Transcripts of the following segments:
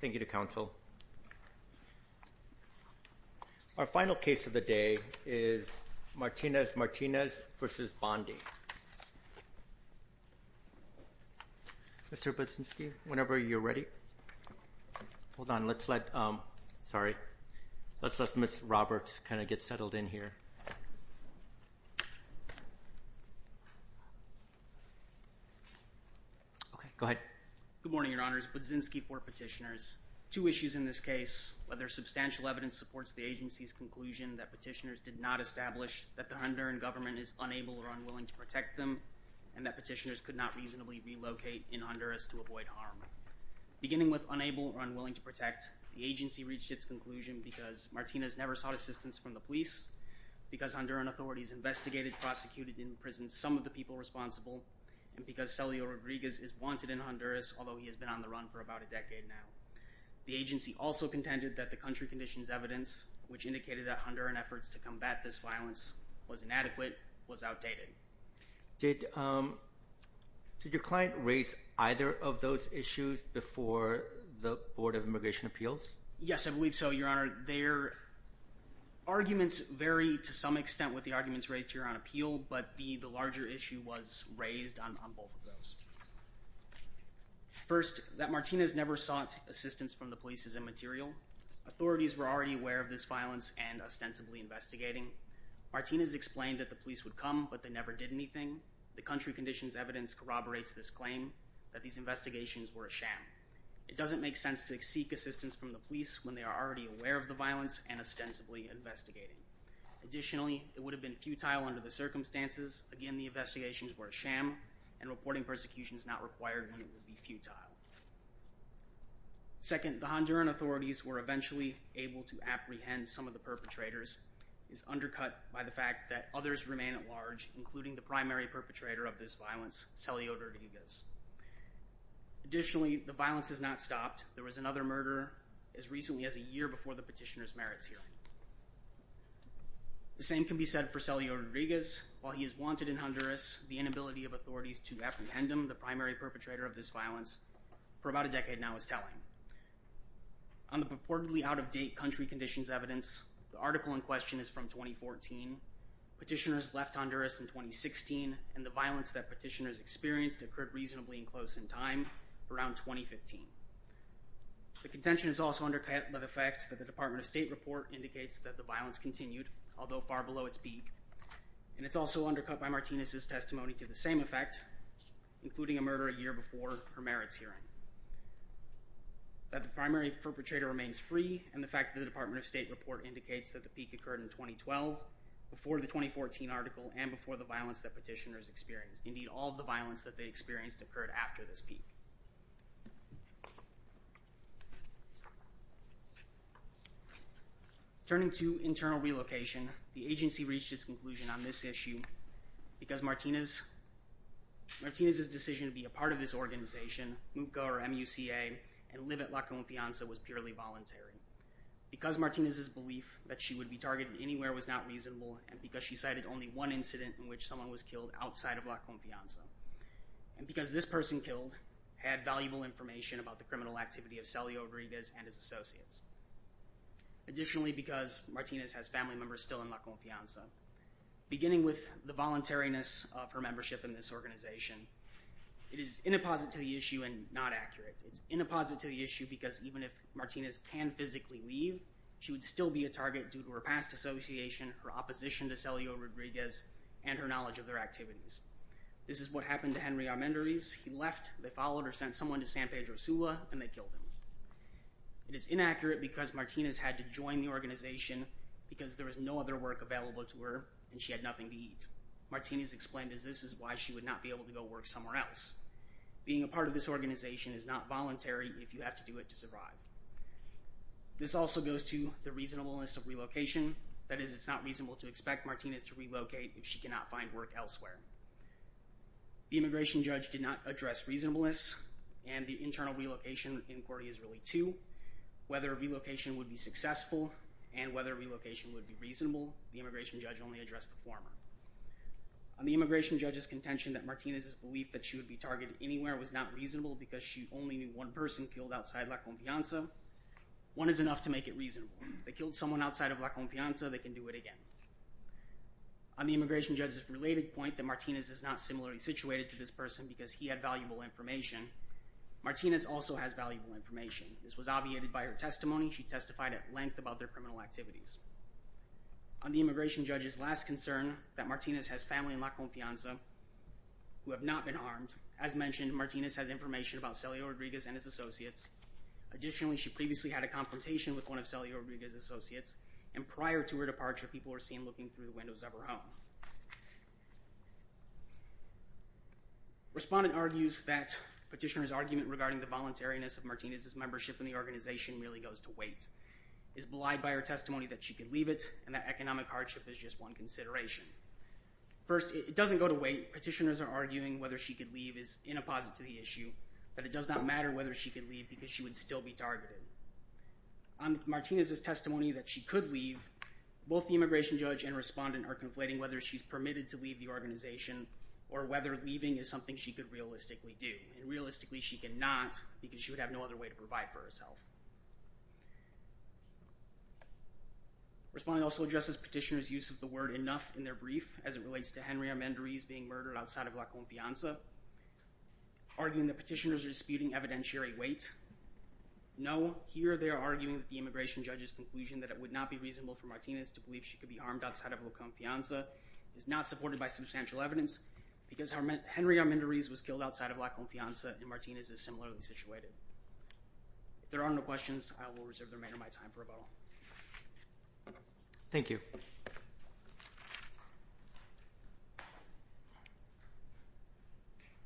Thank you to counsel. Our final case of the day is Martinez-Martinez v. Bondi. Mr. Budzinski, whenever you're ready. Hold on. Let's let Ms. Roberts kind of get settled in here. Okay, go ahead. Good morning, your honors. Budzinski for petitioners. Two issues in this case, whether substantial evidence supports the agency's conclusion that petitioners did not establish that the Honduran government is unable or unwilling to protect them, and that petitioners could not reasonably relocate in Honduras to avoid harm. Beginning with unable or unwilling to protect, the agency reached its conclusion because Martinez never sought assistance from the police, because Honduran authorities investigated, prosecuted, and imprisoned some of the people responsible, and because Celio Rodriguez is wanted in Honduras, although he has been on the run for about a decade now. The agency also contended that the country conditions evidence, which indicated that Honduran efforts to combat this violence was inadequate, was outdated. Did your client raise either of those issues before the Board of Immigration Appeals? Yes, I believe so, your honor. Their arguments vary to some extent with the arguments raised here on appeal, but the larger issue was raised on both of those. First, that Martinez never sought assistance from the police is immaterial. Authorities were already aware of this violence and ostensibly investigating. Martinez explained that the police would come, but they never did anything. The country conditions evidence corroborates this claim, that these investigations were a sham. It doesn't make sense to seek assistance from the police when they are already aware of the violence and ostensibly investigating. Additionally, it would have been futile under the circumstances. Again, the investigations were a sham, and reporting persecution is not required when it would be futile. Second, the Honduran authorities were eventually able to apprehend some of the perpetrators. It's undercut by the fact that others remain at large, including the primary perpetrator of this violence, Celio Rodriguez. Additionally, the violence has not stopped. There was another murder as recently as a year before the petitioner's merits hearing. The same can be said for Celio Rodriguez. While he is wanted in Honduras, the inability of authorities to apprehend him, the primary perpetrator of this violence, for about a decade now is telling. On the purportedly out-of-date country conditions evidence, the article in question is from 2014. Petitioners left Honduras in 2016, and the violence that petitioners experienced occurred reasonably close in time, around 2015. The contention is also undercut by the fact that the Department of State report indicates that the violence continued, although far below its peak. And it's also undercut by Martinez's testimony to the same effect, including a murder a year before her merits hearing. That the primary perpetrator remains free, and the fact that the Department of State report indicates that the peak occurred in 2012, before the 2014 article, and before the violence that petitioners experienced. Indeed, all of the violence that they experienced occurred after this peak. Turning to internal relocation, the agency reached its conclusion on this issue, because Martinez's decision to be a part of this organization, MUCA or M-U-C-A, and live at La Confianza was purely voluntary. Because Martinez's belief that she would be targeted anywhere was not reasonable, and because she cited only one incident in which someone was killed outside of La Confianza. And because this person killed had valuable information about the criminal activity of Celio Rodriguez and his associates. Additionally, because Martinez has family members still in La Confianza. Beginning with the voluntariness of her membership in this organization, it is inapposite to the issue and not accurate. It's inapposite to the issue because even if Martinez can physically leave, she would still be a target due to her past association, her opposition to Celio Rodriguez, and her knowledge of their activities. This is what happened to Henry Armendariz. He left, they followed, or sent someone to San Pedro Sula, and they killed him. It is inaccurate because Martinez had to join the organization because there was no other work available to her, and she had nothing to eat. Martinez explained that this is why she would not be able to go work somewhere else. Being a part of this organization is not voluntary if you have to do it to survive. This also goes to the reasonableness of relocation. That is, it's not reasonable to expect Martinez to relocate if she cannot find work elsewhere. The immigration judge did not address reasonableness, and the internal relocation inquiry is really two. Whether relocation would be successful and whether relocation would be reasonable, the immigration judge only addressed the former. On the immigration judge's contention that Martinez's belief that she would be targeted anywhere was not reasonable because she only knew one person killed outside La Confianza, one is enough to make it reasonable. They killed someone outside of La Confianza, they can do it again. On the immigration judge's related point that Martinez is not similarly situated to this person because he had valuable information, Martinez also has valuable information. This was obviated by her testimony. She testified at length about their criminal activities. On the immigration judge's last concern that Martinez has family in La Confianza who have not been harmed, as mentioned, Martinez has information about Celio Rodriguez and his associates. Additionally, she previously had a confrontation with one of Celio Rodriguez's associates, and prior to her departure, people were seen looking through the windows of her home. Respondent argues that petitioner's argument regarding the voluntariness of Martinez's membership in the organization really goes to weight. It's belied by her testimony that she could leave it and that economic hardship is just one consideration. First, it doesn't go to weight. Petitioners are arguing whether she could leave is inapposite to the issue, that it does not matter whether she could leave because she would still be targeted. On Martinez's testimony that she could leave, both the immigration judge and respondent are conflating whether she's permitted to leave the organization or whether leaving is something she could realistically do, and realistically she cannot because she would have no other way to provide for herself. Respondent also addresses petitioner's use of the word enough in their brief as it relates to Henry Armendariz being murdered outside of La Confianza, arguing that petitioners are disputing evidentiary weight. No, here they are arguing that the immigration judge's conclusion that it would not be reasonable for Martinez to believe she could be harmed outside of La Confianza is not supported by substantial evidence because Henry Armendariz was killed outside of La Confianza and Martinez is similarly situated. If there are no questions, I will reserve the remainder of my time for rebuttal. Thank you.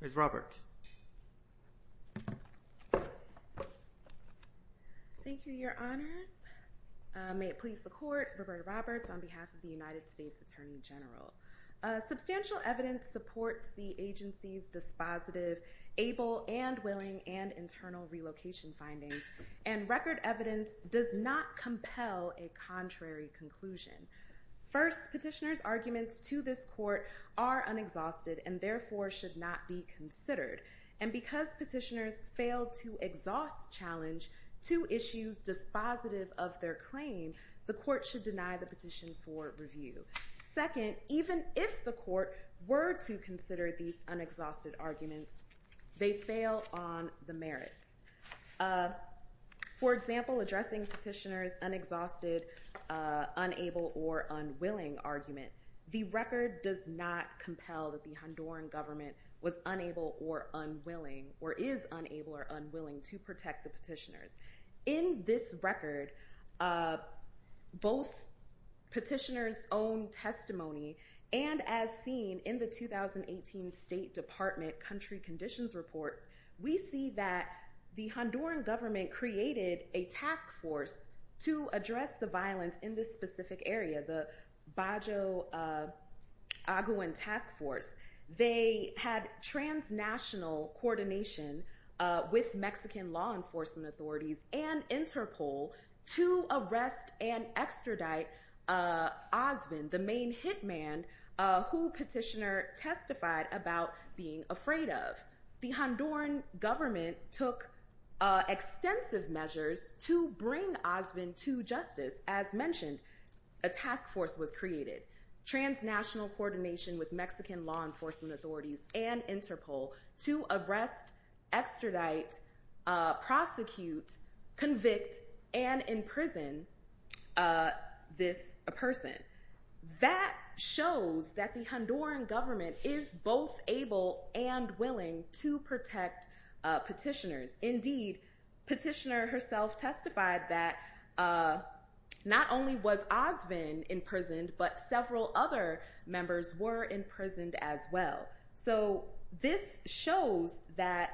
Ms. Roberts. Thank you, Your Honors. May it please the Court. Roberta Roberts on behalf of the United States Attorney General. Substantial evidence supports the agency's dispositive, able and willing and internal relocation findings and record evidence does not compel a contrary conclusion. First, petitioner's arguments to this court are unexhausted and therefore should not be considered and because petitioners failed to exhaust challenge to issues dispositive of their claim, the court should deny the petition for review. Second, even if the court were to consider these unexhausted arguments, they fail on the merits. For example, addressing petitioner's unexhausted, unable or unwilling argument, the record does not compel that the Honduran government was unable or unwilling or is unable or unwilling to protect the petitioners. In this record, both petitioner's own testimony and as seen in the 2018 State Department Country Conditions Report, we see that the Honduran government created a task force to address the violence in this specific area, the Bajo Agüen Task Force. They had transnational coordination with Mexican law enforcement authorities and INTERPOL to arrest and extradite Osmond, the main hitman who petitioner testified about being afraid of. The Honduran government took extensive measures to bring Osmond to justice. As mentioned, a task force was created. Transnational coordination with Mexican law enforcement authorities and INTERPOL to arrest, extradite, prosecute, convict and imprison this person. That shows that the Honduran government is both able and willing to protect petitioners. Indeed, petitioner herself testified that not only was Osmond imprisoned, but several other members were imprisoned as well. This shows that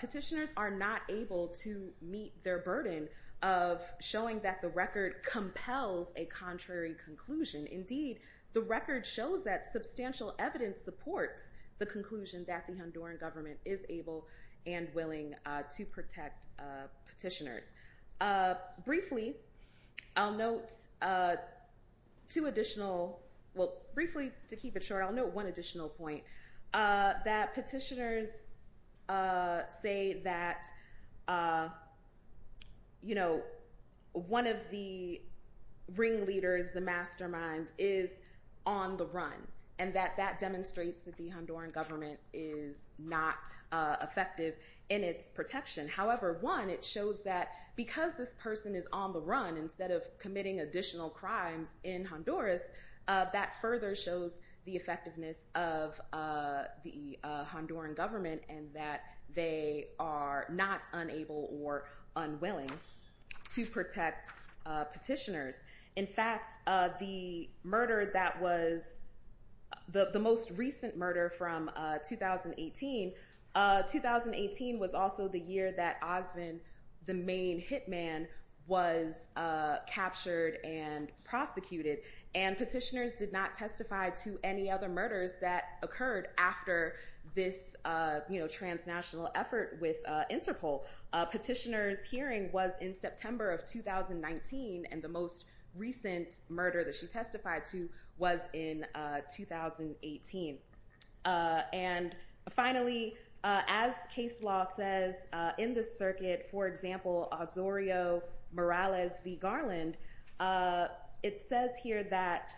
petitioners are not able to meet their burden of showing that the record compels a contrary conclusion. Indeed, the record shows that substantial evidence supports the conclusion that the Honduran government is able and willing to protect petitioners. Briefly, to keep it short, I'll note one additional point. That petitioners say that one of the ringleaders, the mastermind, is on the run. And that demonstrates that the Honduran government is not effective in its protection. However, one, it shows that because this person is on the run instead of committing additional crimes in Honduras, that further shows the effectiveness of the Honduran government and that they are not unable or unwilling to protect petitioners. In fact, the murder that was the most recent murder from 2018, 2018 was also the year that Osmond, the main hitman, was captured and prosecuted. And petitioners did not testify to any other murders that occurred after this transnational effort with Interpol. Petitioner's hearing was in September of 2019, and the most recent murder that she testified to was in 2018. And finally, as case law says in the circuit, for example, Osorio Morales v. Garland, it says here that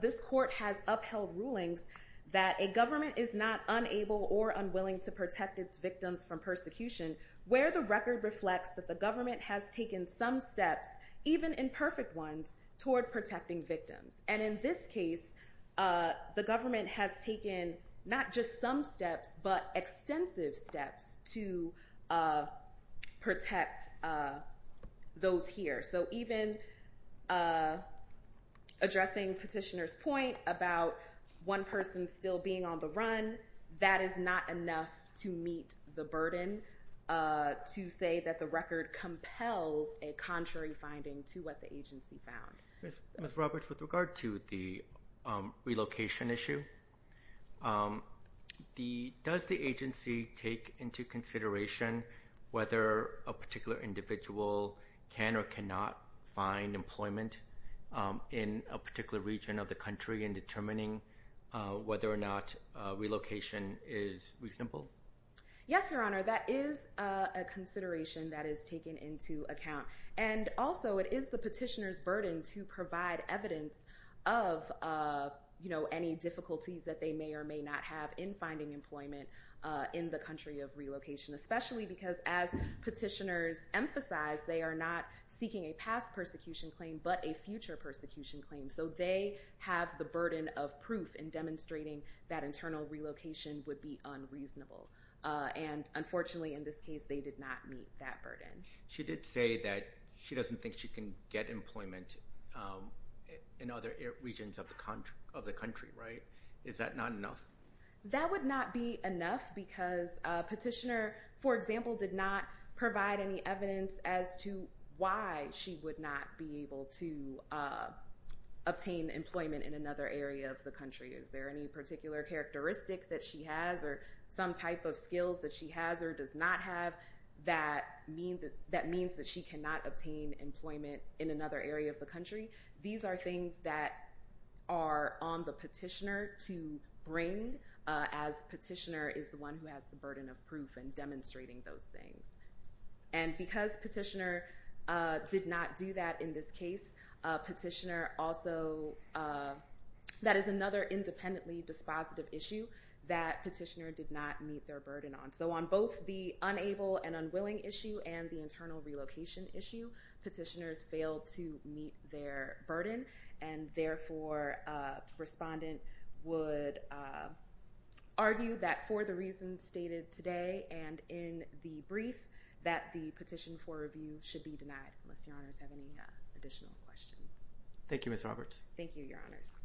this court has upheld rulings that a government is not unable or unwilling to protect its victims from persecution, where the record reflects that the government has taken some steps, even imperfect ones, toward protecting victims. And in this case, the government has taken not just some steps, but extensive steps to protect those here. So even addressing petitioner's point about one person still being on the run, that is not enough to meet the burden to say that the record compels a contrary finding to what the agency found. Ms. Roberts, with regard to the relocation issue, does the agency take into consideration whether a particular individual can or cannot find employment in a particular region of the country in determining whether or not relocation is reasonable? Yes, Your Honor, that is a consideration that is taken into account. And also, it is the petitioner's burden to provide evidence of, you know, any difficulties that they may or may not have in finding employment in the country of relocation, especially because as petitioners emphasize, they are not seeking a past persecution claim, but a future persecution claim. So they have the burden of proof in demonstrating that internal relocation would be unreasonable. And unfortunately, in this case, they did not meet that burden. She did say that she doesn't think she can get employment in other regions of the country, right? Is that not enough? That would not be enough because petitioner, for example, did not provide any evidence as to why she would not be able to obtain employment in another area of the country. Is there any particular characteristic that she has or some type of skills that she has or does not have that means that she cannot obtain employment in another area of the country? These are things that are on the petitioner to bring as petitioner is the one who has the burden of proof in demonstrating those things. And because petitioner did not do that in this case, petitioner also, that is another independently dispositive issue that petitioner did not meet their burden on. So on both the unable and unwilling issue and the internal relocation issue, petitioners failed to meet their burden. And therefore, respondent would argue that for the reasons stated today and in the brief that the petition for review should be denied unless your honors have any additional questions. Thank you, Ms. Roberts. Thank you, your honors.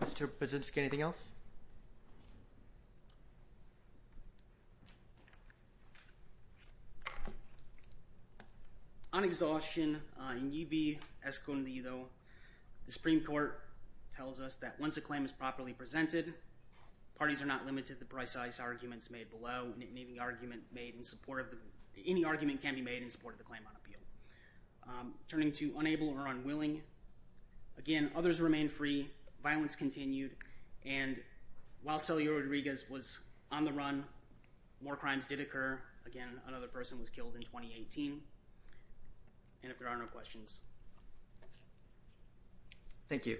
Mr. Brzezinski, anything else? On exhaustion, in Y vi escondido, the Supreme Court tells us that once a claim is properly presented, parties are not limited to the precise arguments made below. Any argument can be made in support of the claim on appeal. Turning to unable or unwilling, again, others remain free. Violence continued. And while Celia Rodriguez was on the run, more crimes did occur. Again, another person was killed in 2018. And if there are no questions. Thank you.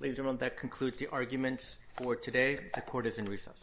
Ladies and gentlemen, that concludes the arguments for today. The court is in recess.